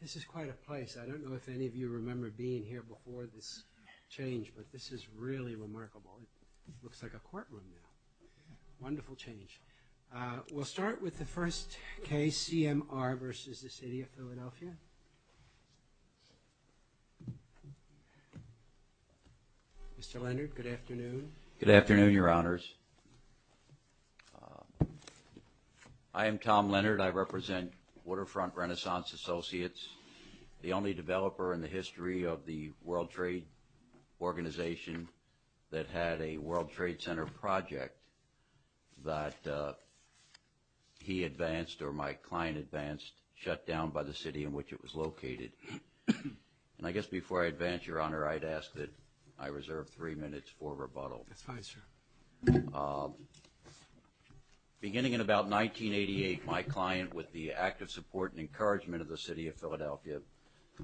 This is quite a place. I don't know if any of you remember being here before this change, but this is really remarkable. It looks like a courtroom now. Wonderful change. We'll start with the first case, CMR v. The City of Philadelphia. Mr. Leonard, good afternoon. Good afternoon, Your Honors. I am Tom Leonard. I represent Waterfront Renaissance Associates, the only developer in the history of the World Trade Organization that had a World Trade Center project that he advanced or my client advanced, shut down by the city in which it was located. And I guess before I advance, Your Honor, I'd ask that I reserve three minutes for rebuttal. That's fine, sir. Beginning in about 1988, my client, with the act of support and encouragement of the City of Philadelphia,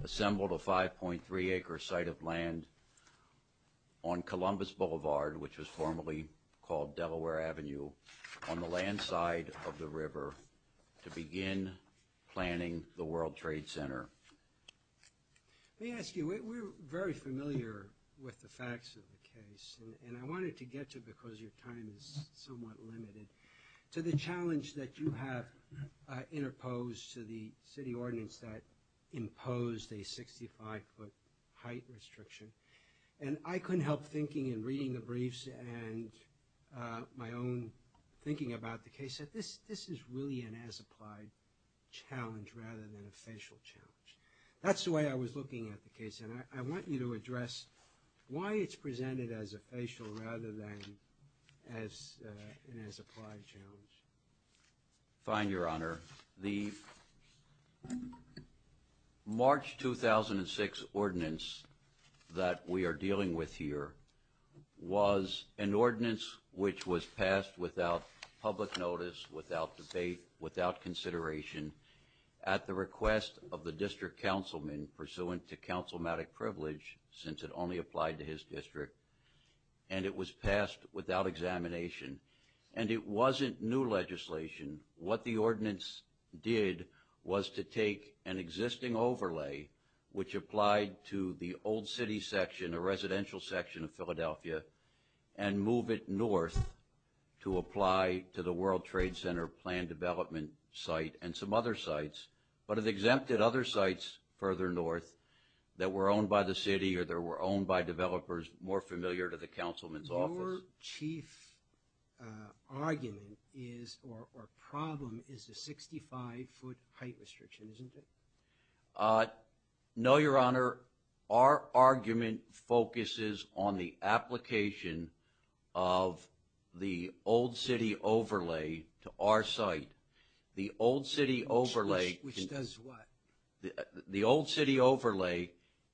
assembled a 5.3-acre site of land on Columbus Boulevard, which was formerly called Delaware Avenue, on the land side of the river to begin planning the World Trade Center. Let me ask you, we're very familiar with the facts of the case, and I wanted to get to it because your time is somewhat limited, to the challenge that you have interposed to the city ordinance that imposed a 65-foot height restriction. And I couldn't help thinking in reading the briefs and my own thinking about the case that this is really an as-applied challenge rather than a facial challenge. That's the way I was looking at the case, and I want you to address why it's presented as a facial rather than as an as-applied challenge. Fine, Your Honor. The March 2006 ordinance that we are dealing with here was an ordinance which was passed without public notice, without debate, without consideration, at the request of the district councilman, pursuant to councilmanic privilege, since it only applied to his district, and it was passed without examination. And it wasn't new legislation. What the ordinance did was to take an existing overlay, which applied to the old city section, a residential section of Philadelphia, and move it north to apply to the World Trade Center planned development site and some other sites, but it exempted other sites further north that were owned by the city or that were owned by developers more familiar to the councilman's office. Your chief argument is, or problem, is the 65-foot height restriction, isn't it? No, Your Honor. Our argument focuses on the application of the old city overlay to our site. The old city overlay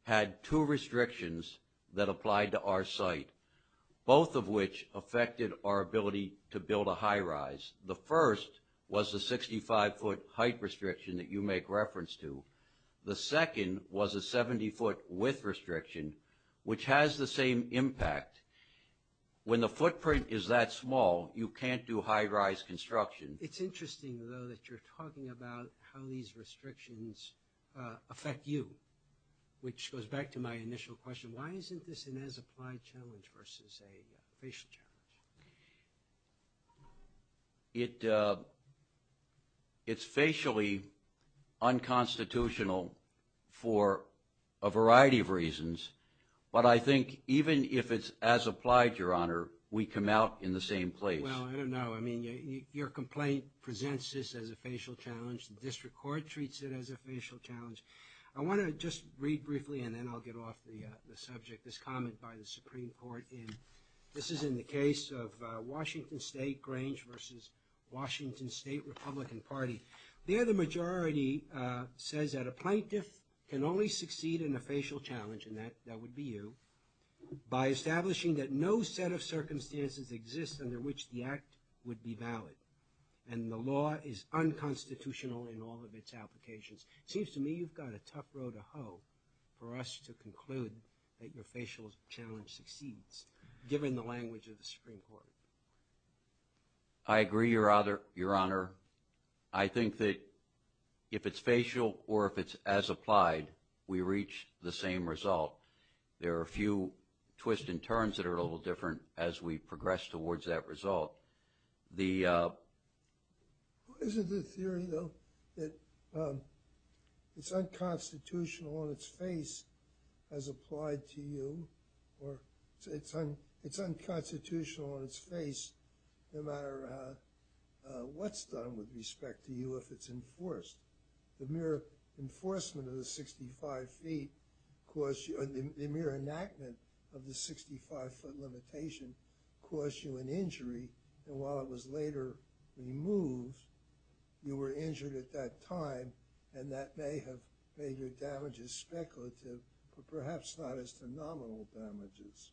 had two restrictions that applied to our site, both of which affected our ability to build a high-rise. The first was the 65-foot height restriction that you make reference to. The second was a 70-foot width restriction, which has the same impact. When the footprint is that small, you can't do high-rise construction. It's interesting, though, that you're talking about how these restrictions affect you, which goes back to my initial question. Why isn't this an as-applied challenge versus a facial challenge? It's facially unconstitutional for a variety of reasons, but I think even if it's as-applied, Your Honor, we come out in the same place. Well, I don't know. I mean, your complaint presents this as a facial challenge. The district court treats it as a facial challenge. I want to just read briefly, and then I'll get off the subject, this comment by the Supreme Court. This is in the case of Washington State Grange versus Washington State Republican Party. There the majority says that a plaintiff can only succeed in a facial challenge, and that would be you, by establishing that no set of circumstances exists under which the act would be valid, and the law is unconstitutional in all of its applications. It seems to me you've got a tough row to hoe for us to conclude that your facial challenge succeeds, given the language of the Supreme Court. I agree, Your Honor. I think that if it's facial or if it's as-applied, we reach the same result. There are a few twists and turns that are a little different as we progress towards that result. Isn't the theory, though, that it's unconstitutional on its face as applied to you, or it's unconstitutional on its face no matter what's done with respect to you if it's enforced? The mere enforcement of the 65 feet, the mere enactment of the 65-foot limitation caused you an injury, and while it was later removed, you were injured at that time, and that may have made your damages speculative, but perhaps not as phenomenal damages.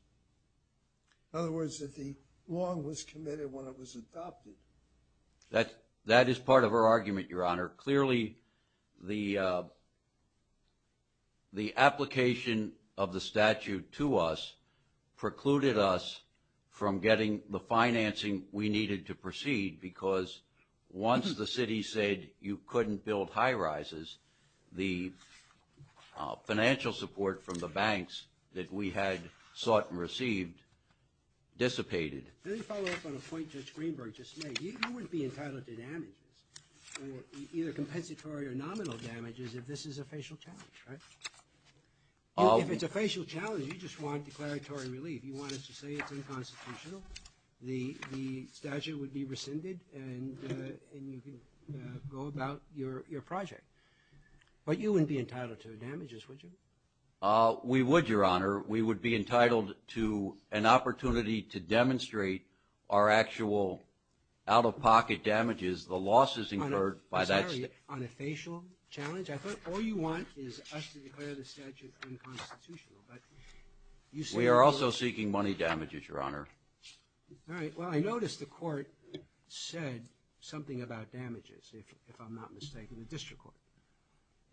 In other words, that the wrong was committed when it was adopted. Your Honor, clearly the application of the statute to us precluded us from getting the financing we needed to proceed because once the city said you couldn't build high-rises, the financial support from the banks that we had sought and received dissipated. Let me follow up on a point Judge Greenberg just made. You wouldn't be entitled to damages, either compensatory or nominal damages, if this is a facial challenge, right? If it's a facial challenge, you just want declaratory relief. You want us to say it's unconstitutional, the statute would be rescinded, and you can go about your project. But you wouldn't be entitled to damages, would you? We would, Your Honor. We would be entitled to an opportunity to demonstrate our actual out-of-pocket damages, the losses incurred by that statute. I'm sorry, on a facial challenge? I thought all you want is us to declare the statute unconstitutional. We are also seeking money damages, Your Honor. All right. Well, I noticed the court said something about damages, if I'm not mistaken, the district court.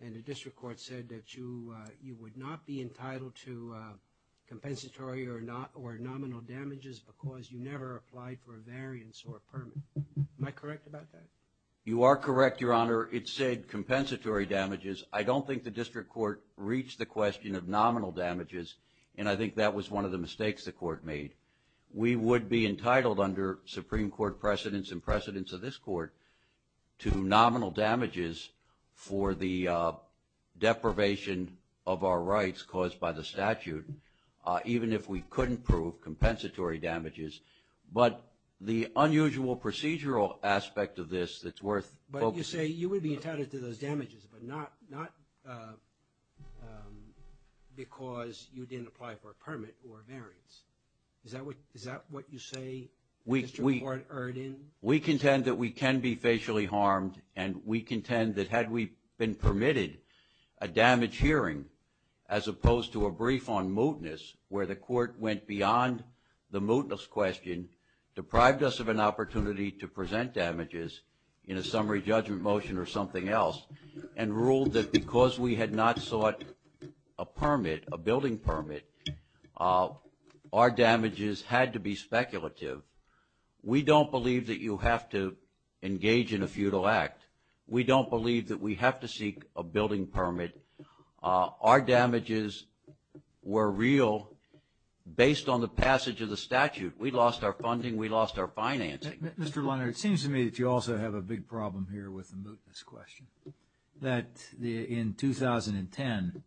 And the district court said that you would not be entitled to compensatory or nominal damages because you never applied for a variance or a permit. Am I correct about that? You are correct, Your Honor. It said compensatory damages. I don't think the district court reached the question of nominal damages, and I think that was one of the mistakes the court made. We would be entitled under Supreme Court precedents and precedents of this court to nominal damages for the deprivation of our rights caused by the statute, even if we couldn't prove compensatory damages. But the unusual procedural aspect of this that's worth focusing on. But you say you would be entitled to those damages, but not because you didn't apply for a permit or a variance. Is that what you say, District Court Erdin? We contend that we can be facially harmed, and we contend that had we been permitted a damage hearing, as opposed to a brief on mootness where the court went beyond the mootness question, deprived us of an opportunity to present damages in a summary judgment motion or something else, and ruled that because we had not sought a permit, a building permit, our damages had to be speculative. We don't believe that you have to engage in a futile act. We don't believe that we have to seek a building permit. Our damages were real based on the passage of the statute. We lost our funding. We lost our financing. Mr. Leonard, it seems to me that you also have a big problem here with the mootness question, that in 2010,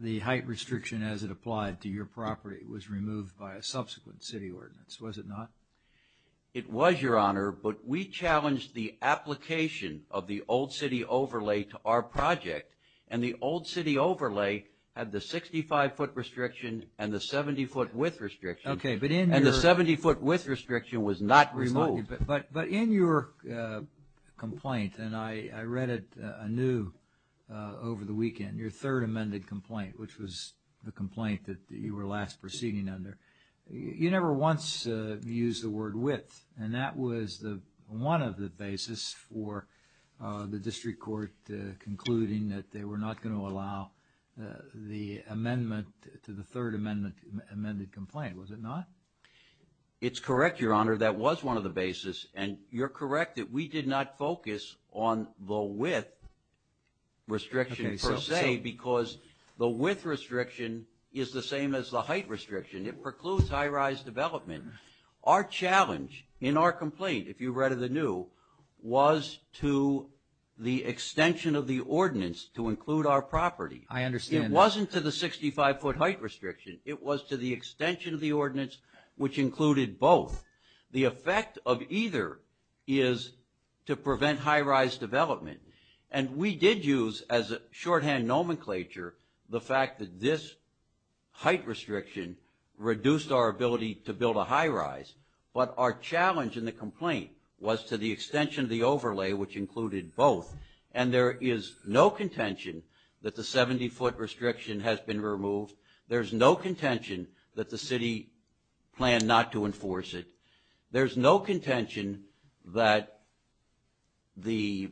the height restriction as it applied to your property was removed by a subsequent city ordinance. Was it not? It was, Your Honor, but we challenged the application of the old city overlay to our project, and the old city overlay had the 65-foot restriction and the 70-foot width restriction. Okay, but in your And the 70-foot width restriction was not removed. But in your complaint, and I read it anew over the weekend, your third amended complaint, which was the complaint that you were last proceeding under, you never once used the word width, and that was one of the basis for the district court concluding that they were not going to allow the amendment to the third amended complaint. Was it not? It's correct, Your Honor. That was one of the basis, and you're correct that we did not focus on the width restriction per se because the width restriction is the same as the height restriction. It precludes high-rise development. Our challenge in our complaint, if you read it anew, was to the extension of the ordinance to include our property. I understand. It wasn't to the 65-foot height restriction. It was to the extension of the ordinance, which included both. The effect of either is to prevent high-rise development, and we did use as a shorthand nomenclature the fact that this height restriction reduced our ability to build a high-rise, but our challenge in the complaint was to the extension of the overlay, which included both, and there is no contention that the 70-foot restriction has been removed. There's no contention that the city planned not to enforce it. There's no contention that the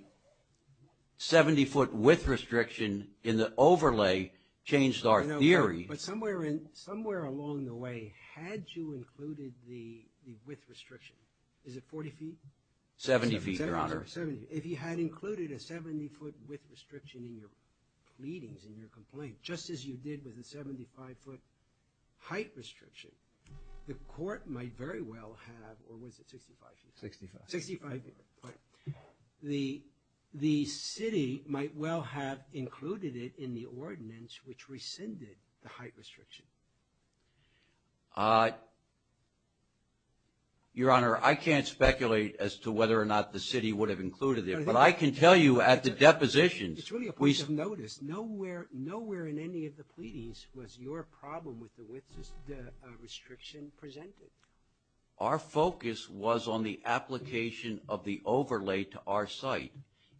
70-foot width restriction in the overlay changed our theory. But somewhere along the way, had you included the width restriction, is it 40 feet? 70 feet, Your Honor. 70. If you had included a 70-foot width restriction in your pleadings, in your complaint, just as you did with the 75-foot height restriction, the court might very well have, or was it 65 feet? 65. 65-foot. The city might well have included it in the ordinance, which rescinded the height restriction. Your Honor, I can't speculate as to whether or not the city would have included it, but I can tell you at the depositions. It's really a point of notice. Nowhere in any of the pleadings was your problem with the width restriction presented. Our focus was on the application of the overlay to our site,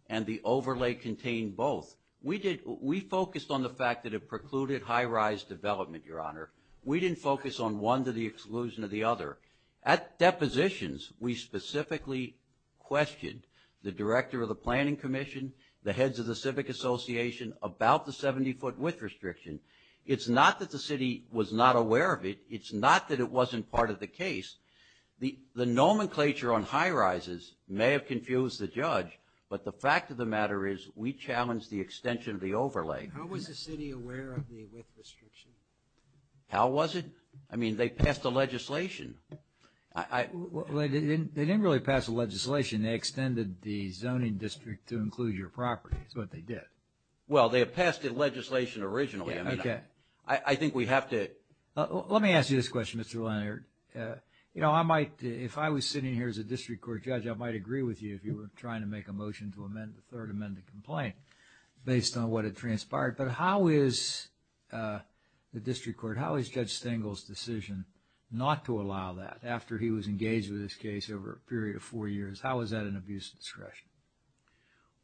and the overlay contained both. We focused on the fact that it precluded high-rise development, Your Honor. We didn't focus on one to the exclusion of the other. At depositions, we specifically questioned the director of the planning commission, the heads of the civic association about the 70-foot width restriction. It's not that the city was not aware of it. It's not that it wasn't part of the case. The nomenclature on high-rises may have confused the judge, but the fact of the matter is we challenged the extension of the overlay. How was the city aware of the width restriction? How was it? I mean, they passed the legislation. They didn't really pass the legislation. They extended the zoning district to include your property is what they did. Well, they passed the legislation originally. I think we have to – Let me ask you this question, Mr. Leonard. You know, if I was sitting here as a district court judge, I might agree with you if you were trying to make a motion to amend the third amended complaint based on what had transpired. But how is the district court – how is Judge Stengel's decision not to allow that after he was engaged with this case over a period of four years? How is that an abuse of discretion?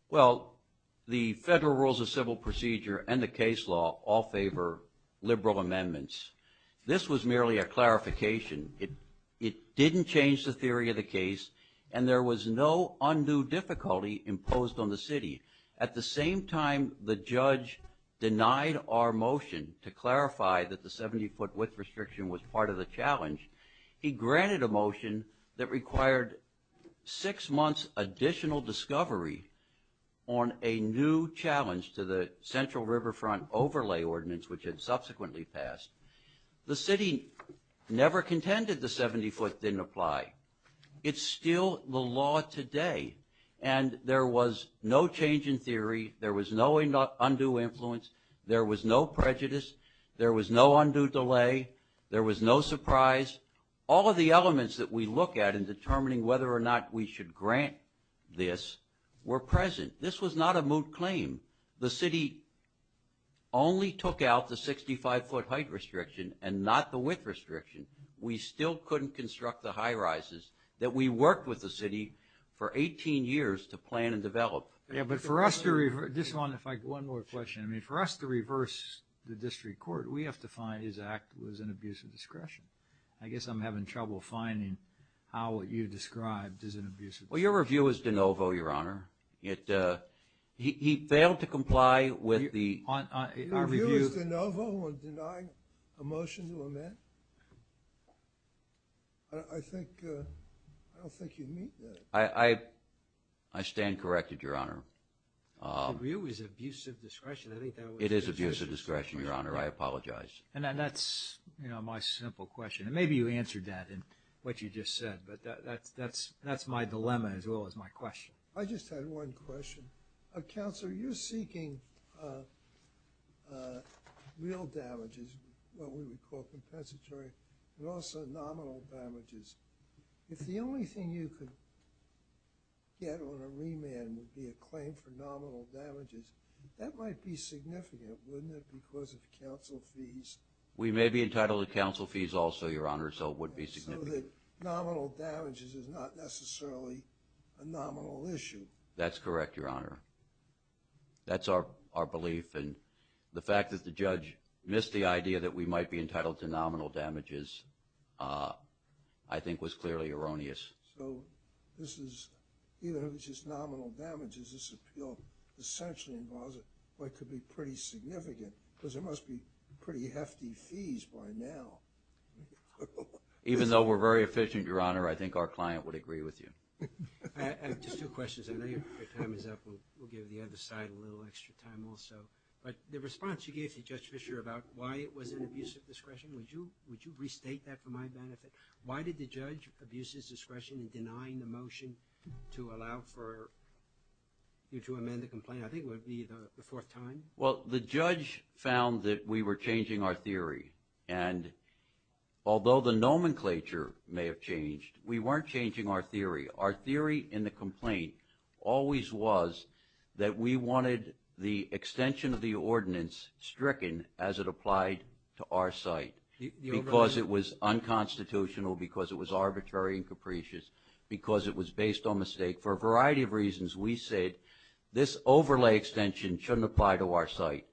Well, the federal rules of civil procedure and the case law all favor liberal amendments. This was merely a clarification. It didn't change the theory of the case, and there was no undue difficulty imposed on the city. At the same time the judge denied our motion to clarify that the 70-foot width restriction was part of the challenge, he granted a motion that required six months additional discovery on a new challenge to the Central Riverfront Overlay Ordinance, which had subsequently passed. The city never contended the 70-foot didn't apply. It's still the law today. And there was no change in theory. There was no undue influence. There was no prejudice. There was no undue delay. There was no surprise. All of the elements that we look at in determining whether or not we should grant this were present. This was not a moot claim. The city only took out the 65-foot height restriction and not the width restriction. We still couldn't construct the high rises that we worked with the city for 18 years to plan and develop. Yeah, but for us to reverse the district court, we have to find his act was an abuse of discretion. I guess I'm having trouble finding how what you described is an abuse of discretion. Well, your review is de novo, Your Honor. He failed to comply with the review. An abuse de novo on denying a motion to amend? I don't think you'd meet that. I stand corrected, Your Honor. The review is abuse of discretion. It is abuse of discretion, Your Honor. I apologize. And that's my simple question. Maybe you answered that in what you just said, but that's my dilemma as well as my question. I just had one question. Counselor, you're seeking real damages, what we would call compensatory, but also nominal damages. If the only thing you could get on a remand would be a claim for nominal damages, that might be significant, wouldn't it, because of council fees? We may be entitled to council fees also, Your Honor, so it would be significant. So that nominal damages is not necessarily a nominal issue. That's correct, Your Honor. That's our belief, and the fact that the judge missed the idea that we might be entitled to nominal damages, I think, was clearly erroneous. So this is, even if it's just nominal damages, this appeal essentially involves what could be pretty significant, because there must be pretty hefty fees by now. Even though we're very efficient, Your Honor, I think our client would agree with you. I have just two questions. I know your time is up. We'll give the other side a little extra time also. But the response you gave to Judge Fischer about why it was an abuse of discretion, would you restate that for my benefit? Why did the judge abuse his discretion in denying the motion to allow for you to amend the complaint? I think it would be the fourth time. Well, the judge found that we were changing our theory. And although the nomenclature may have changed, we weren't changing our theory. Our theory in the complaint always was that we wanted the extension of the ordinance stricken as it applied to our site because it was unconstitutional, because it was arbitrary and capricious, because it was based on mistake. For a variety of reasons, we said this overlay extension shouldn't apply to our site.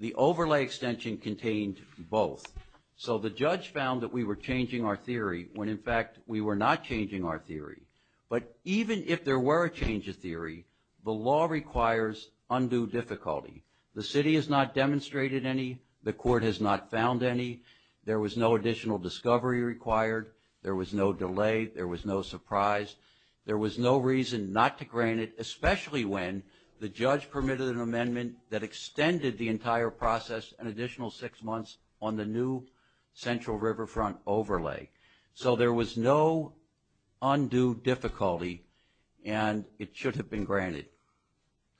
The overlay extension contained both. So the judge found that we were changing our theory when, in fact, we were not changing our theory. But even if there were a change of theory, the law requires undue difficulty. The city has not demonstrated any. The court has not found any. There was no additional discovery required. There was no delay. There was no surprise. There was no reason not to grant it, especially when the judge permitted an amendment that extended the entire process an additional six months on the new central riverfront overlay. So there was no undue difficulty, and it should have been granted.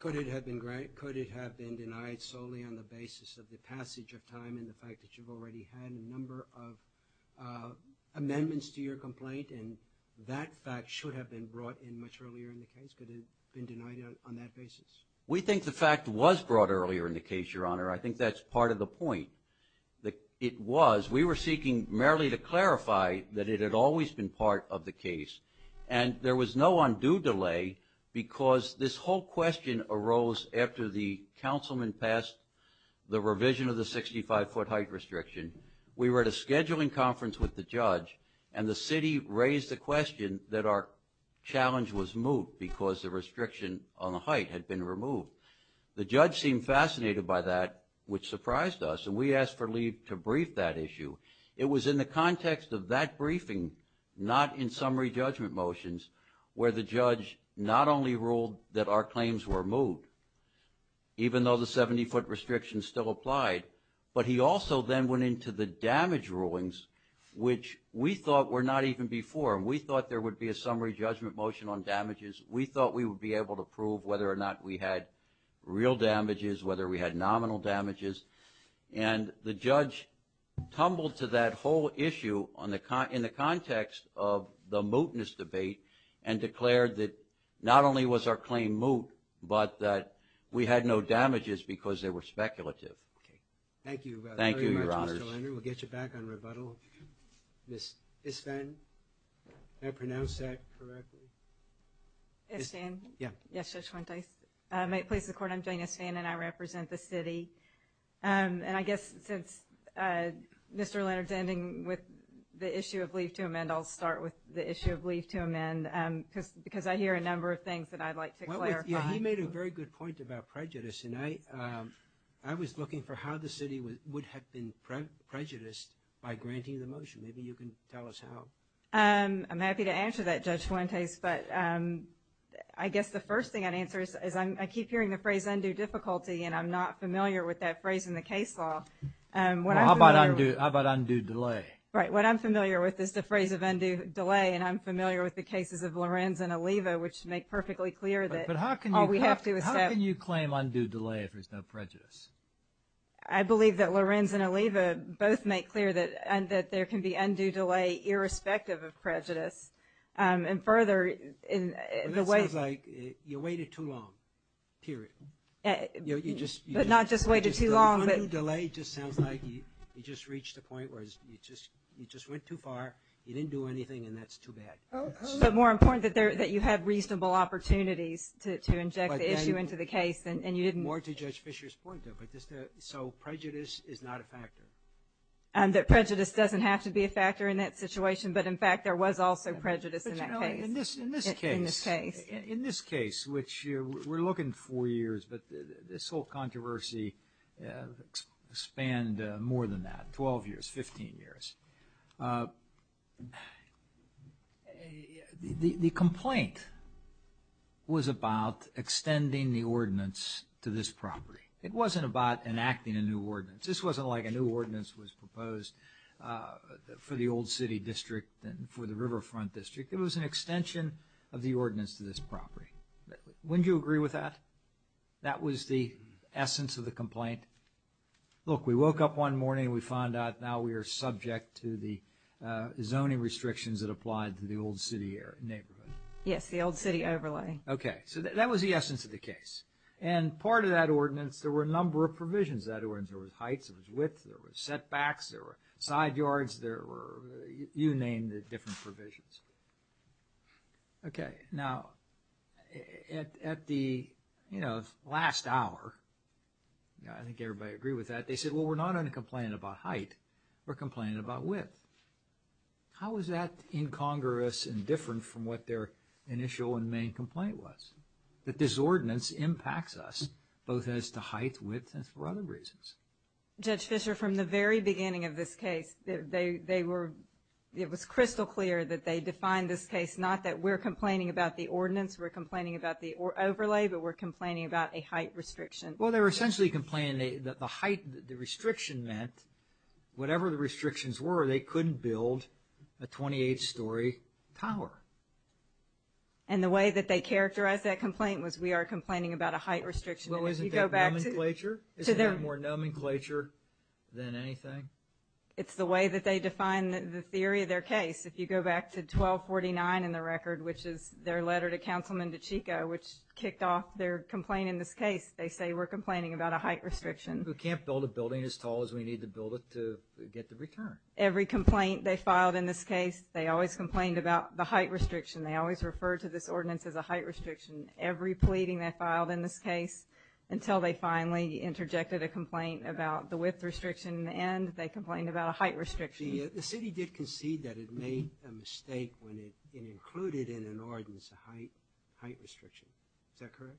Could it have been denied solely on the basis of the passage of time and the fact that you've already had a number of amendments to your complaint? And that fact should have been brought in much earlier in the case. Could it have been denied on that basis? We think the fact was brought earlier in the case, Your Honor. I think that's part of the point. It was. We were seeking merely to clarify that it had always been part of the case. And there was no undue delay because this whole question arose after the councilman passed the revision of the 65-foot height restriction. We were at a scheduling conference with the judge, and the city raised the question that our challenge was moot because the restriction on the height had been removed. The judge seemed fascinated by that, which surprised us, and we asked for Lee to brief that issue. It was in the context of that briefing, not in summary judgment motions, where the judge not only ruled that our claims were moot, even though the 70-foot restriction still applied, but he also then went into the damage rulings, which we thought were not even before. We thought there would be a summary judgment motion on damages. We thought we would be able to prove whether or not we had real damages, whether we had nominal damages. And the judge tumbled to that whole issue in the context of the mootness debate and declared that not only was our claim moot, but that we had no damages because they were speculative. Okay. Thank you very much, Mr. Leonard. Thank you, Your Honors. We'll get you back on rebuttal. Ms. Isfan, did I pronounce that correctly? Isfan? Yeah. Yes, Judge Fuentes. May it please the Court, I'm Janice Isfan, and I represent the city. And I guess since Mr. Leonard's ending with the issue of leave to amend, I'll start with the issue of leave to amend because I hear a number of things that I'd like to clarify. Yeah, he made a very good point about prejudice, and I was looking for how the city would have been prejudiced by granting the motion. Maybe you can tell us how. I'm happy to answer that, Judge Fuentes. But I guess the first thing I'd answer is I keep hearing the phrase undue difficulty, and I'm not familiar with that phrase in the case law. Well, how about undue delay? Right. What I'm familiar with is the phrase of undue delay, and I'm familiar with the cases of Lorenz and Oliva, which make perfectly clear that all we have to accept – But how can you claim undue delay if there's no prejudice? I believe that Lorenz and Oliva both make clear that there can be undue delay irrespective of prejudice. And further, in the way – Well, that sounds like you waited too long, period. You just – But not just waited too long, but – Undue delay just sounds like you just reached a point where you just went too far, you didn't do anything, and that's too bad. But more important, that you had reasonable opportunities to inject the issue into the case, and you didn't – So prejudice is not a factor? That prejudice doesn't have to be a factor in that situation, but, in fact, there was also prejudice in that case. But, you know, in this case – In this case. In this case, which we're looking four years, but this whole controversy spanned more than that, 12 years, 15 years. The complaint was about extending the ordinance to this property. It wasn't about enacting a new ordinance. This wasn't like a new ordinance was proposed for the Old City District and for the Riverfront District. It was an extension of the ordinance to this property. Wouldn't you agree with that? That was the essence of the complaint? Look, we woke up one morning and we found out now we are subject to the zoning restrictions that applied to the Old City neighborhood. Yes, the Old City overlay. Okay, so that was the essence of the case. And part of that ordinance, there were a number of provisions of that ordinance. There was heights, there was width, there was setbacks, there were side yards, there were – you named the different provisions. Okay, now, at the, you know, last hour, I think everybody agreed with that. They said, well, we're not going to complain about height. We're complaining about width. How is that incongruous and different from what their initial and main complaint was? That this ordinance impacts us, both as to height, width, and for other reasons. Judge Fischer, from the very beginning of this case, they were – it was crystal clear that they defined this case not that we're complaining about the ordinance, we're complaining about the overlay, but we're complaining about a height restriction. Well, they were essentially complaining that the height restriction meant, whatever the restrictions were, they couldn't build a 28-story tower. And the way that they characterized that complaint was, we are complaining about a height restriction. Well, isn't that nomenclature? Isn't that more nomenclature than anything? It's the way that they define the theory of their case. If you go back to 1249 in the record, which is their letter to Councilman DiCicco, which kicked off their complaint in this case, they say we're complaining about a height restriction. We can't build a building as tall as we need to build it to get the return. Every complaint they filed in this case, they always complained about the height restriction. They always referred to this ordinance as a height restriction. Every pleading they filed in this case, until they finally interjected a complaint about the width restriction, and they complained about a height restriction. The city did concede that it made a mistake when it included in an ordinance a height restriction. Is that correct?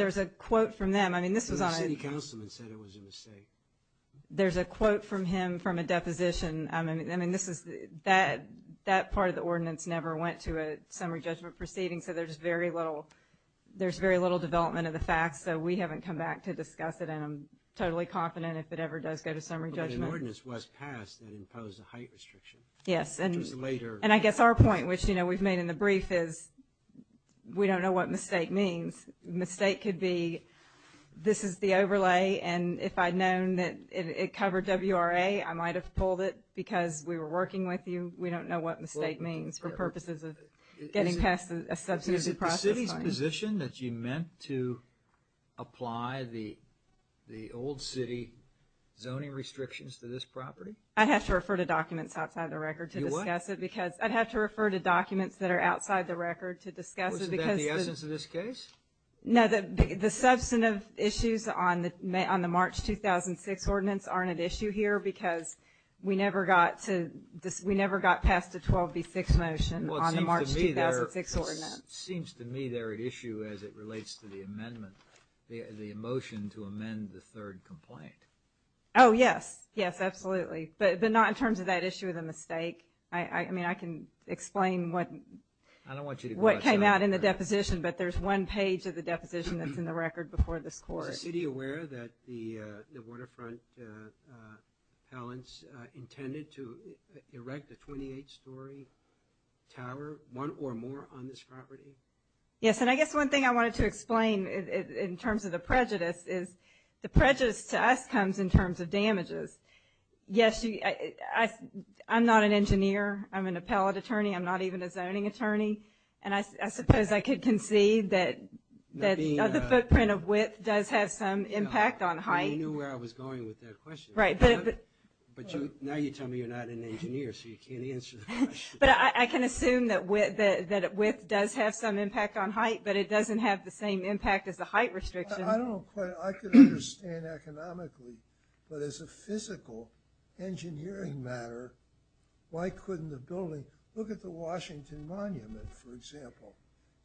There's a quote from them. I mean, this was on a – The city councilman said it was a mistake. There's a quote from him from a deposition. I mean, this is – that part of the ordinance never went to a summary judgment proceeding, so there's very little development of the facts, so we haven't come back to discuss it, and I'm totally confident if it ever does go to summary judgment. But an ordinance was passed that imposed a height restriction. Yes, and I guess our point, which, you know, we've made in the brief, is we don't know what mistake means. Mistake could be this is the overlay, and if I'd known that it covered WRA, I might have pulled it because we were working with you. We don't know what mistake means for purposes of getting past a substantive process. Is it the city's position that you meant to apply the old city zoning restrictions to this property? I'd have to refer to documents outside the record to discuss it because – You would? I'd have to refer to documents that are outside the record to discuss it because – No, the substantive issues on the March 2006 ordinance aren't at issue here because we never got to – we never got past the 12B6 motion on the March 2006 ordinance. Well, it seems to me they're at issue as it relates to the amendment, the motion to amend the third complaint. Oh, yes. Yes, absolutely. But not in terms of that issue of the mistake. I mean, I can explain what – I don't want you to go out – Not in the deposition, but there's one page of the deposition that's in the record before this court. Is the city aware that the waterfront appellants intended to erect a 28-story tower, one or more on this property? Yes, and I guess one thing I wanted to explain in terms of the prejudice is the prejudice to us comes in terms of damages. Yes, I'm not an engineer. I'm an appellate attorney. I'm not even a zoning attorney. And I suppose I could concede that the footprint of width does have some impact on height. Well, you knew where I was going with that question. Right, but – But now you tell me you're not an engineer, so you can't answer the question. But I can assume that width does have some impact on height, but it doesn't have the same impact as the height restriction. I don't know quite – I could understand economically, but as a physical engineering matter, why couldn't the building – look at the Washington Monument, for example.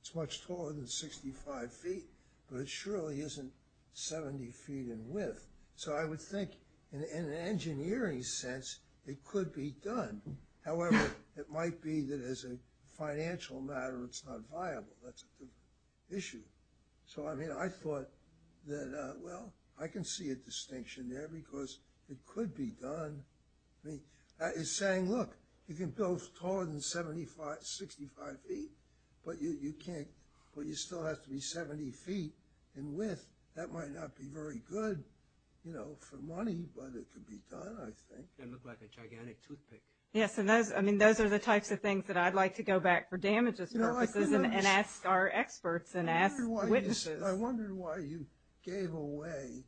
It's much taller than 65 feet, but it surely isn't 70 feet in width. So I would think in an engineering sense it could be done. However, it might be that as a financial matter it's not viable. That's the issue. So, I mean, I thought that, well, I can see a distinction there because it could be done. It's saying, look, you can build taller than 65 feet, but you still have to be 70 feet in width. That might not be very good for money, but it could be done, I think. It would look like a gigantic toothpick. Yes, and those are the types of things that I'd like to go back for damages purposes and ask our experts and ask witnesses. I wondered why you gave away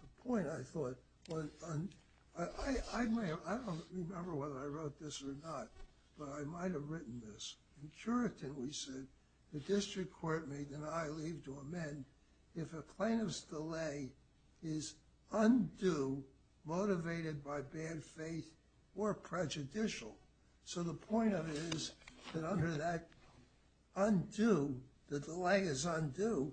the point, I thought. I don't remember whether I wrote this or not, but I might have written this. In Curitin we said the district court may deny leave to amend if a plaintiff's delay is undue, motivated by bad faith, or prejudicial. So, the point of it is that under that undue, the delay is undue.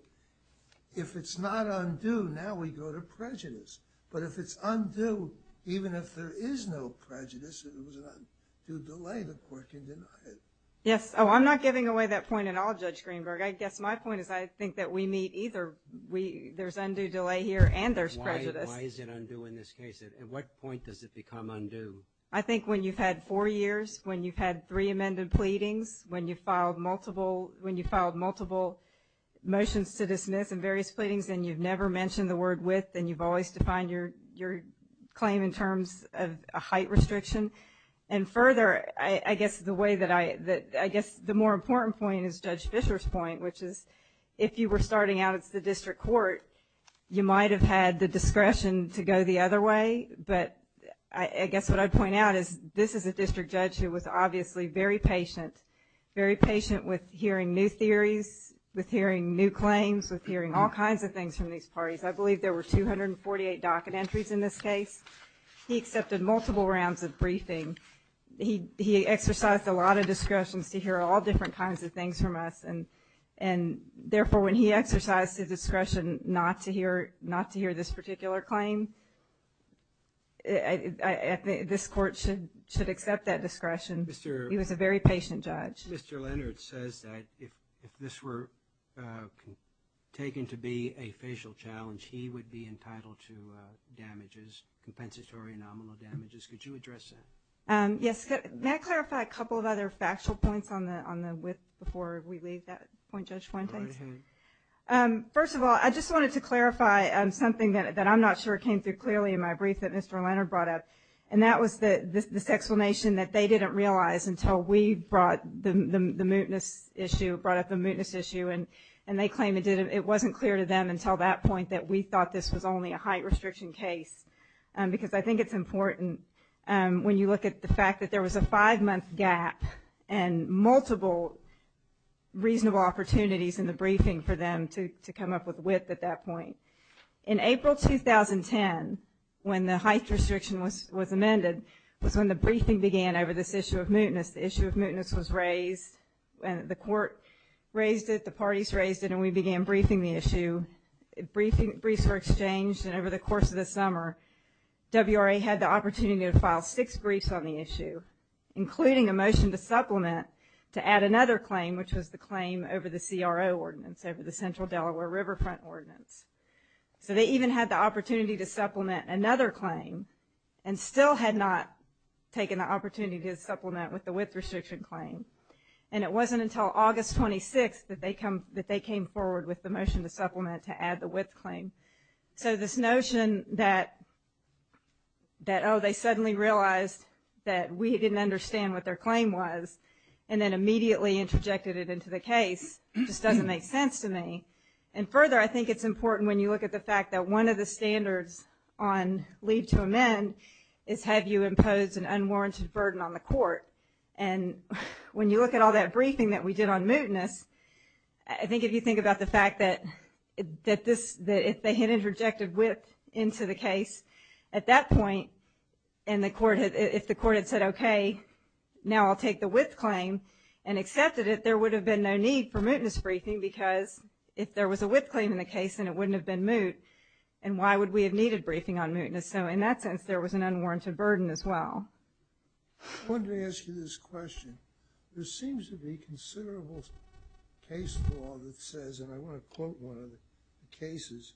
If it's not undue, now we go to prejudice. But if it's undue, even if there is no prejudice, it was an undue delay, the court can deny it. Yes. Oh, I'm not giving away that point at all, Judge Greenberg. I guess my point is I think that we meet either. There's undue delay here and there's prejudice. Why is it undue in this case? At what point does it become undue? I think when you've had four years, when you've had three amended pleadings, when you've filed multiple motions to dismiss in various pleadings and you've never mentioned the word with and you've always defined your claim in terms of a height restriction. And further, I guess the more important point is Judge Fischer's point, which is if you were starting out at the district court, you might have had the discretion to go the other way. But I guess what I'd point out is this is a district judge who was obviously very patient, very patient with hearing new theories, with hearing new claims, with hearing all kinds of things from these parties. I believe there were 248 docket entries in this case. He accepted multiple rounds of briefing. He exercised a lot of discretion to hear all different kinds of things from us. And therefore, when he exercised his discretion not to hear this particular claim, this court should accept that discretion. He was a very patient judge. Mr. Leonard says that if this were taken to be a facial challenge, he would be entitled to damages, compensatory and nominal damages. Could you address that? Yes. May I clarify a couple of other factual points on the width before we leave that point, Judge Fuentes? First of all, I just wanted to clarify something that I'm not sure came through clearly in my brief that Mr. Leonard brought up. And that was this explanation that they didn't realize until we brought the mootness issue, brought up the mootness issue, and they claim it wasn't clear to them until that point that we thought this was only a height restriction case. Because I think it's important when you look at the fact that there was a five-month gap and multiple reasonable opportunities in the briefing for them to come up with width at that point. In April 2010, when the height restriction was amended, was when the briefing began over this issue of mootness. The issue of mootness was raised, and the court raised it, the parties raised it, and we began briefing the issue. Briefs were exchanged, and over the course of the summer, WRA had the opportunity to file six briefs on the issue, including a motion to supplement to add another claim, which was the claim over the CRO ordinance, over the Central Delaware Riverfront ordinance. So they even had the opportunity to supplement another claim and still had not taken the opportunity to supplement with the width restriction claim. And it wasn't until August 26th that they came forward with the motion to supplement to add the width claim. So this notion that, oh, they suddenly realized that we didn't understand what their claim was and then immediately interjected it into the case just doesn't make sense to me. And further, I think it's important when you look at the fact that one of the standards on leave to amend is have you impose an unwarranted burden on the court. And when you look at all that briefing that we did on mootness, I think if you think about the fact that if they had interjected width into the case at that point and if the court had said, okay, now I'll take the width claim and accepted it, there would have been no need for mootness briefing because if there was a width claim in the case, then it wouldn't have been moot. And why would we have needed briefing on mootness? So in that sense, there was an unwarranted burden as well. I wanted to ask you this question. There seems to be considerable case law that says, and I want to quote one of the cases,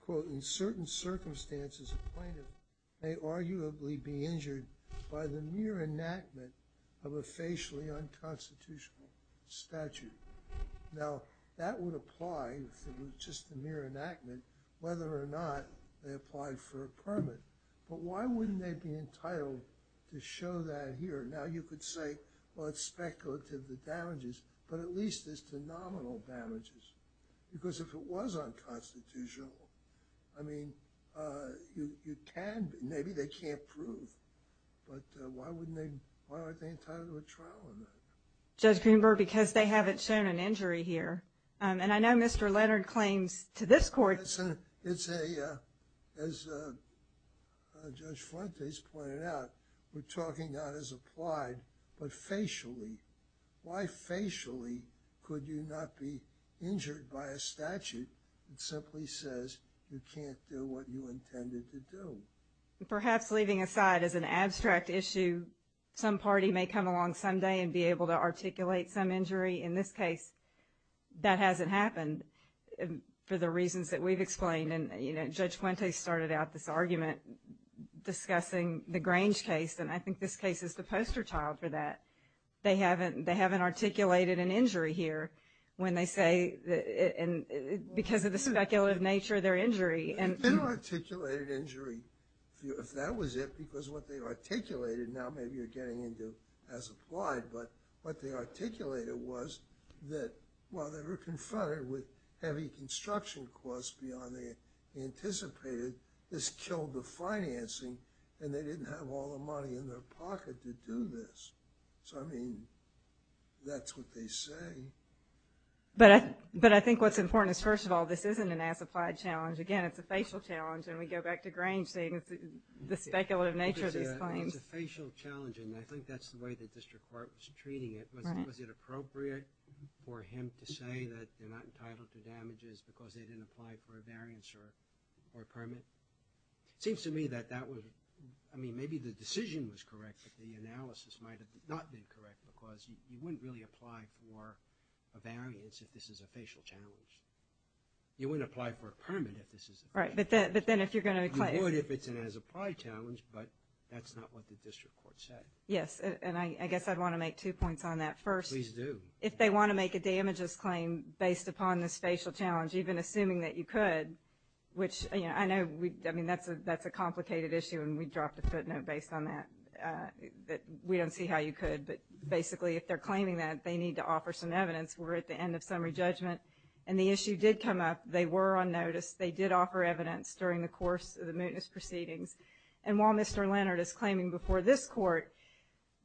quote, in certain circumstances, a plaintiff may arguably be injured by the mere enactment of a facially unconstitutional statute. Now, that would apply if it was just a mere enactment, whether or not they applied for a permit. But why wouldn't they be entitled to show that here? Now, you could say, well, it's speculative, the damages, but at least it's the nominal damages. Because if it was unconstitutional, I mean, you can, maybe they can't prove. But why wouldn't they, why aren't they entitled to a trial on that? Judge Greenberg, because they haven't shown an injury here. And I know Mr. Leonard claims to this court. It's a, as Judge Fuentes pointed out, we're talking not as applied, but facially. Why facially could you not be injured by a statute that simply says you can't do what you intended to do? Perhaps leaving aside as an abstract issue, some party may come along someday In this case, that hasn't happened for the reasons that we've explained. And Judge Fuentes started out this argument discussing the Grange case. And I think this case is the poster child for that. They haven't articulated an injury here when they say, because of the speculative nature of their injury. They didn't articulate an injury. If that was it, because what they articulated, now maybe you're getting into as applied, but what they articulated was that while they were confronted with heavy construction costs beyond they anticipated, this killed the financing and they didn't have all the money in their pocket to do this. So, I mean, that's what they say. But I think what's important is, first of all, this isn't an as applied challenge. Again, it's a facial challenge. And we go back to Grange saying it's the speculative nature of these claims. It's a facial challenge, and I think that's the way the district court was treating it. Was it appropriate for him to say that they're not entitled to damages because they didn't apply for a variance or a permit? It seems to me that that was, I mean, maybe the decision was correct, but the analysis might not have been correct because you wouldn't really apply for a variance if this is a facial challenge. You wouldn't apply for a permit if this is a facial challenge. Right, but then if you're going to claim. You would if it's an as applied challenge, but that's not what the district court said. Yes, and I guess I'd want to make two points on that. First. Please do. If they want to make a damages claim based upon this facial challenge, even assuming that you could, which I know, I mean, that's a complicated issue and we dropped a footnote based on that. We don't see how you could, but basically if they're claiming that, they need to offer some evidence. We're at the end of summary judgment, and the issue did come up. They were on notice. They did offer evidence during the course of the mootness proceedings, and while Mr. Leonard is claiming before this court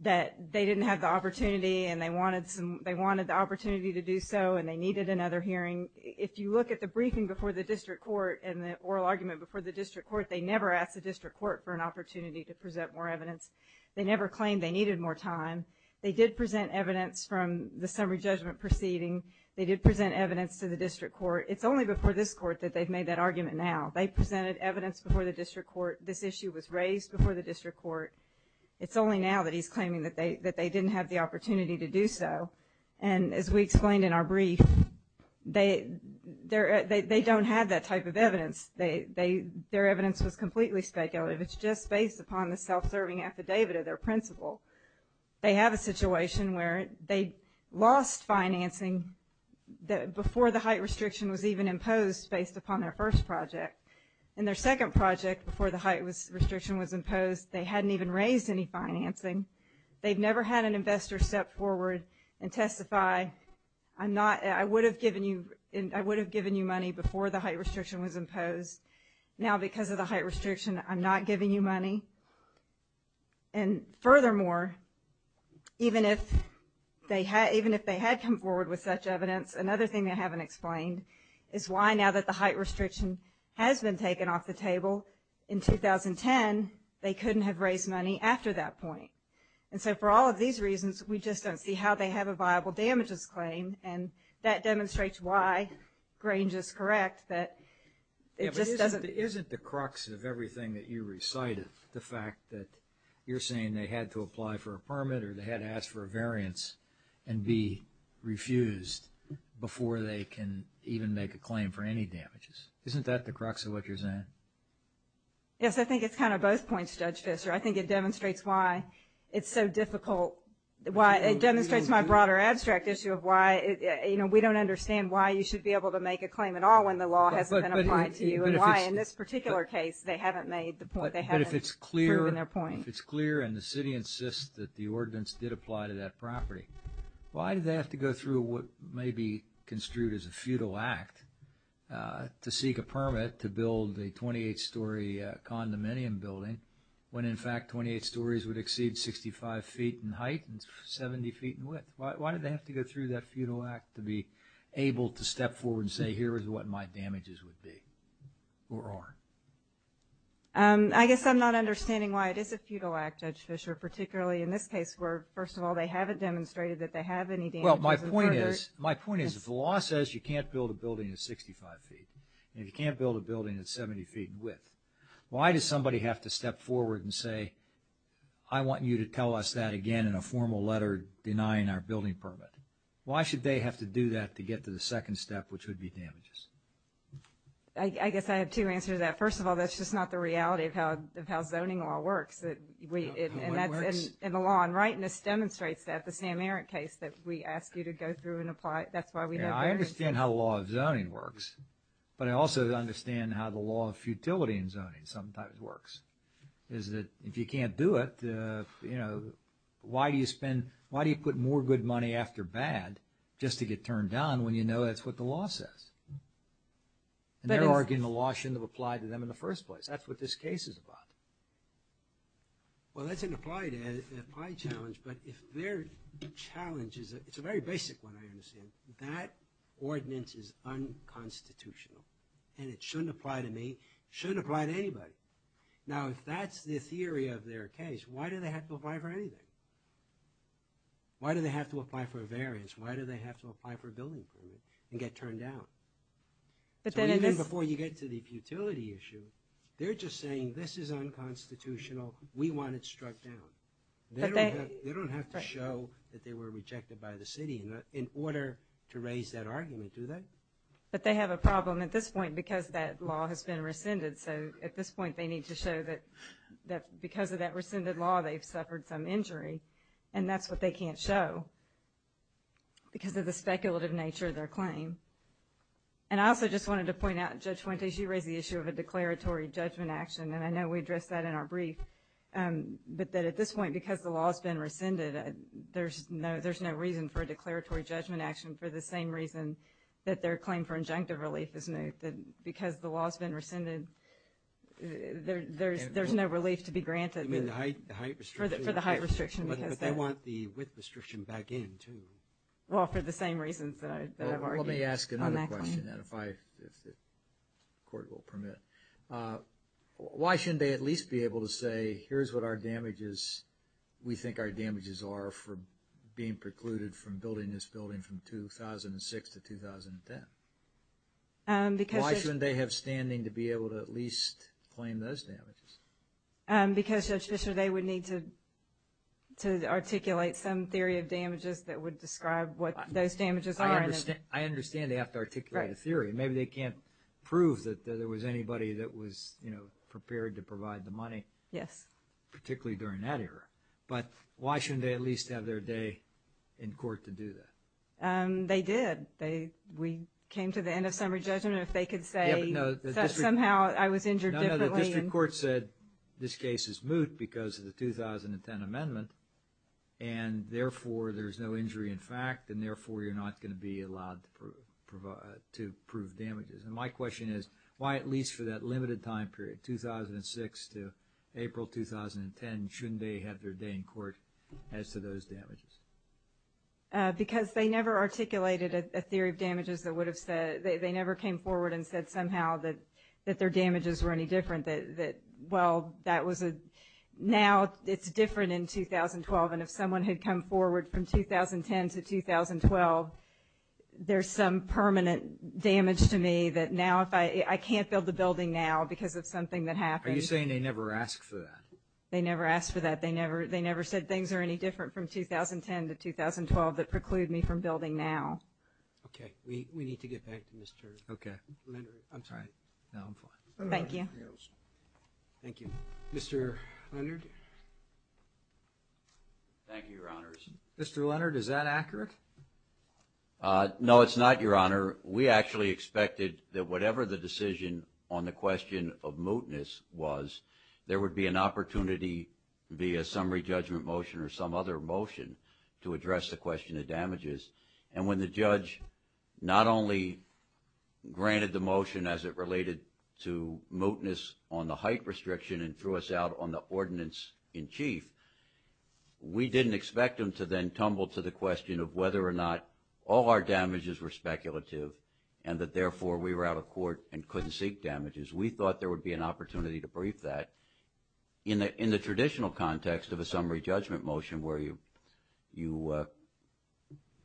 that they didn't have the opportunity and they wanted the opportunity to do so and they needed another hearing, if you look at the briefing before the district court and the oral argument before the district court, they never asked the district court for an opportunity to present more evidence. They never claimed they needed more time. They did present evidence from the summary judgment proceeding. They did present evidence to the district court. It's only before this court that they've made that argument now. They presented evidence before the district court. This issue was raised before the district court. It's only now that he's claiming that they didn't have the opportunity to do so, and as we explained in our brief, they don't have that type of evidence. Their evidence was completely speculative. It's just based upon the self-serving affidavit of their principal. They have a situation where they lost financing before the height restriction was even imposed based upon their first project. In their second project, before the height restriction was imposed, they hadn't even raised any financing. They've never had an investor step forward and testify, I would have given you money before the height restriction was imposed. Now, because of the height restriction, I'm not giving you money. And furthermore, even if they had come forward with such evidence, another thing they haven't explained is why now that the height restriction has been taken off the table in 2010, they couldn't have raised money after that point. And so for all of these reasons, we just don't see how they have a viable damages claim, and that demonstrates why Grange is correct, that it just doesn't... reflect the fact that you're saying they had to apply for a permit or they had to ask for a variance and be refused before they can even make a claim for any damages. Isn't that the crux of what you're saying? Yes, I think it's kind of both points, Judge Fischer. I think it demonstrates why it's so difficult. It demonstrates my broader abstract issue of why, you know, we don't understand why you should be able to make a claim at all when the law hasn't been applied to you, and why in this particular case they haven't made the point, they haven't proven their point. But if it's clear and the city insists that the ordinance did apply to that property, why did they have to go through what may be construed as a futile act to seek a permit to build a 28-story condominium building when in fact 28 stories would exceed 65 feet in height and 70 feet in width? Why did they have to go through that futile act to be able to step forward and say here is what my damages would be or are? I guess I'm not understanding why it is a futile act, Judge Fischer, particularly in this case where, first of all, they haven't demonstrated that they have any damages. Well, my point is if the law says you can't build a building at 65 feet and you can't build a building at 70 feet in width, why does somebody have to step forward and say I want you to tell us that again in a formal letter denying our building permit? Why should they have to do that to get to the second step, which would be damages? I guess I have two answers to that. First of all, that's just not the reality of how zoning law works. And the law in rightness demonstrates that. The Sam Erick case that we asked you to go through and apply it, that's why we know very well. I understand how the law of zoning works, but I also understand how the law of futility in zoning sometimes works. If you can't do it, why do you put more good money after bad just to get turned down when you know that's what the law says? And they're arguing the law shouldn't have applied to them in the first place. That's what this case is about. Well, that's an applied challenge. But if their challenge is – it's a very basic one, I understand. That ordinance is unconstitutional, and it shouldn't apply to me. It shouldn't apply to anybody. Now, if that's the theory of their case, why do they have to apply for anything? Why do they have to apply for a variance? Why do they have to apply for a building permit and get turned down? So even before you get to the futility issue, they're just saying this is unconstitutional, we want it struck down. They don't have to show that they were rejected by the city in order to raise that argument, do they? But they have a problem at this point because that law has been rescinded. So at this point, they need to show that because of that rescinded law, they've suffered some injury, and that's what they can't show because of the speculative nature of their claim. And I also just wanted to point out, Judge Fuentes, you raised the issue of a declaratory judgment action, and I know we addressed that in our brief. But at this point, because the law has been rescinded, there's no reason for a declaratory judgment action for the same reason that their claim for injunctive relief is new. Because the law has been rescinded, there's no relief to be granted. You mean the height restriction? For the height restriction. But they want the width restriction back in, too. Well, for the same reasons that I've argued on that claim. Let me ask another question, if the court will permit. Why shouldn't they at least be able to say, here's what we think our damages are for being precluded from building this building from 2006 to 2010? Why shouldn't they have standing to be able to at least claim those damages? Because, Judge Fischer, they would need to articulate some theory of damages that would describe what those damages are. I understand they have to articulate a theory. Maybe they can't prove that there was anybody that was, you know, prepared to provide the money. Yes. Particularly during that era. But why shouldn't they at least have their day in court to do that? They did. We came to the end of summary judgment. If they could say that somehow I was injured differently. No, the district court said this case is moot because of the 2010 amendment and therefore there's no injury in fact and therefore you're not going to be allowed to prove damages. And my question is, why at least for that limited time period, 2006 to April 2010, shouldn't they have their day in court as to those damages? Because they never articulated a theory of damages that would have said, they never came forward and said somehow that their damages were any different. That, well, that was a, now it's different in 2012 and if someone had come forward from 2010 to 2012, there's some permanent damage to me that now if I, I can't build the building now because of something that happened. Are you saying they never asked for that? They never asked for that. They never said things are any different from 2010 to 2012 that preclude me from building now. Okay, we need to get back to Mr. Leonard. I'm sorry. No, I'm fine. Thank you. Thank you. Mr. Leonard? Thank you, Your Honors. Mr. Leonard, is that accurate? No, it's not, Your Honor. We actually expected that whatever the decision on the question of mootness was, there would be an opportunity via summary judgment motion or some other motion to address the question of damages and when the judge not only granted the motion as it related to mootness on the height restriction and threw us out on the ordinance in chief, we didn't expect him to then tumble to the question of whether or not all our damages were speculative and that therefore we were out of court and couldn't seek damages. We thought there would be an opportunity to brief that. In the traditional context of a summary judgment motion where you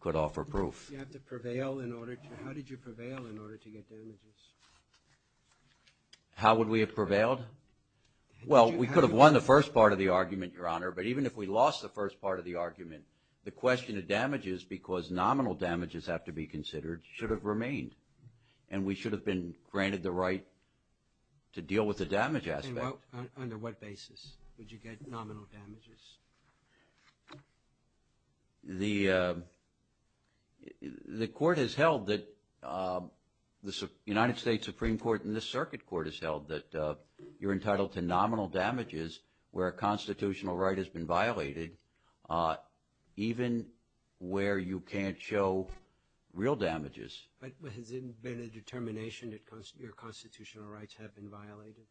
could offer proof. How did you prevail in order to get damages? How would we have prevailed? Well, we could have won the first part of the argument, Your Honor, but even if we lost the first part of the argument, the question of damages because nominal damages have to be considered should have remained and we should have been granted the right to deal with the damage aspect. Well, under what basis would you get nominal damages? The court has held that the United States Supreme Court and this circuit court has held that you're entitled to nominal damages where a constitutional right has been violated even where you can't show real damages. But has it been a determination that your constitutional rights have been violated?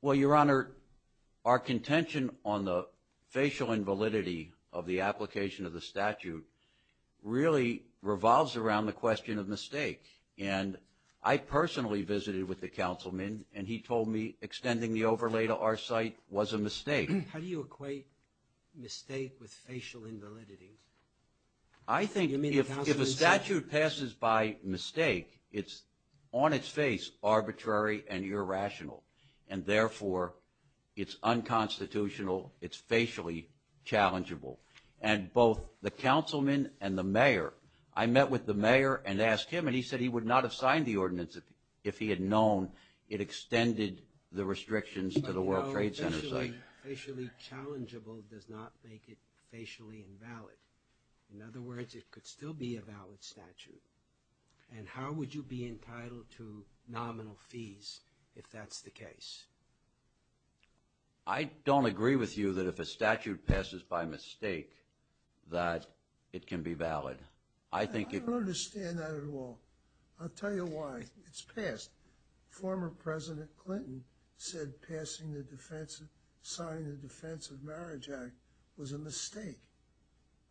Well, Your Honor, our contention on the facial invalidity of the application of the statute really revolves around the question of mistake and I personally visited with the councilman and he told me extending the overlay to our site was a mistake. How do you equate mistake with facial invalidity? I think if a statute passes by mistake, it's on its face arbitrary and irrational and therefore it's unconstitutional, it's facially challengeable and both the councilman and the mayor, I met with the mayor and asked him and he said he would not have signed the ordinance if he had known it extended the restrictions to the World Trade Center site. Facially challengeable does not make it facially invalid. In other words, it could still be a valid statute. And how would you be entitled to nominal fees if that's the case? I don't agree with you that if a statute passes by mistake that it can be valid. I don't understand that at all. I'll tell you why. It's passed. Former President Clinton said signing the Defense of Marriage Act was a mistake.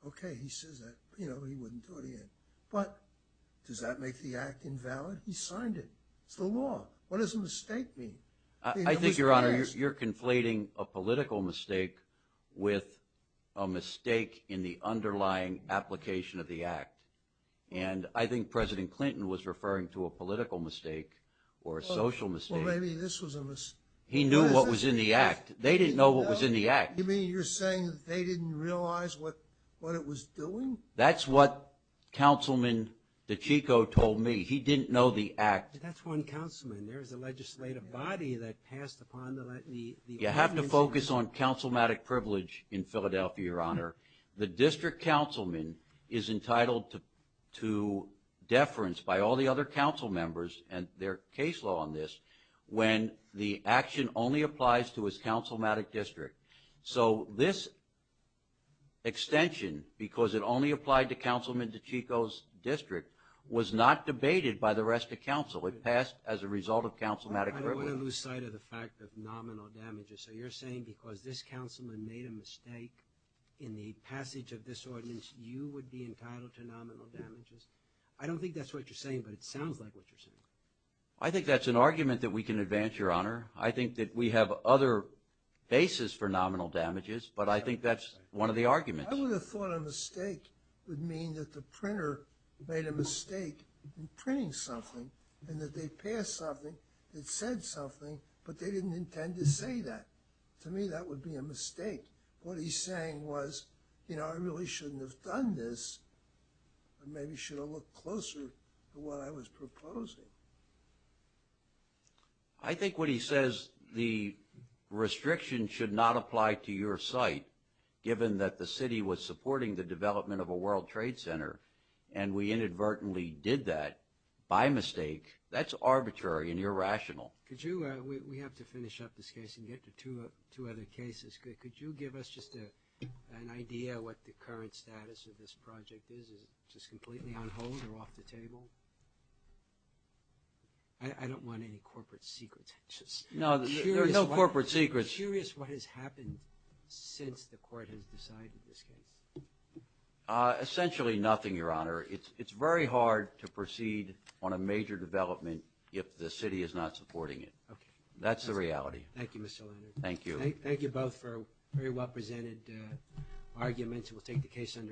Okay, he says that, you know, he wouldn't do it again. But does that make the act invalid? He signed it. It's the law. What does a mistake mean? I think, Your Honor, you're conflating a political mistake with a mistake in the underlying application of the act. And I think President Clinton was referring to a political mistake or a social mistake. Well, maybe this was a mistake. He knew what was in the act. They didn't know what was in the act. You mean you're saying they didn't realize what it was doing? That's what Councilman DiCicco told me. He didn't know the act. That's one councilman. There's a legislative body that passed upon the ordinance. You have to focus on councilmatic privilege in Philadelphia, Your Honor. The district councilman is entitled to deference by all the other councilmembers and their case law on this when the action only applies to his councilmatic district. So this extension, because it only applied to Councilman DiCicco's district, was not debated by the rest of council. It passed as a result of councilmatic privilege. I don't want to lose sight of the fact of nominal damages. So you're saying because this councilman made a mistake in the passage of this ordinance, you would be entitled to nominal damages? I don't think that's what you're saying, but it sounds like what you're saying. I think that's an argument that we can advance, Your Honor. I think that we have other bases for nominal damages, but I think that's one of the arguments. I would have thought a mistake would mean that the printer made a mistake in printing something and that they passed something that said something, but they didn't intend to say that. To me, that would be a mistake. What he's saying was, you know, I really shouldn't have done this. I maybe should have looked closer to what I was proposing. I think what he says, the restriction should not apply to your site, given that the city was supporting the development of a World Trade Center and we inadvertently did that by mistake. That's arbitrary and irrational. We have to finish up this case and get to two other cases. Could you give us just an idea of what the current status of this project is? Is it just completely on hold or off the table? I don't want any corporate secrets. No, there are no corporate secrets. I'm curious what has happened since the court has decided this case. Essentially nothing, Your Honor. It's very hard to proceed on a major development if the city is not supporting it. That's the reality. Thank you, Mr. Leonard. Thank you. Thank you both for a very well-presented argument. We'll take the case under investigation.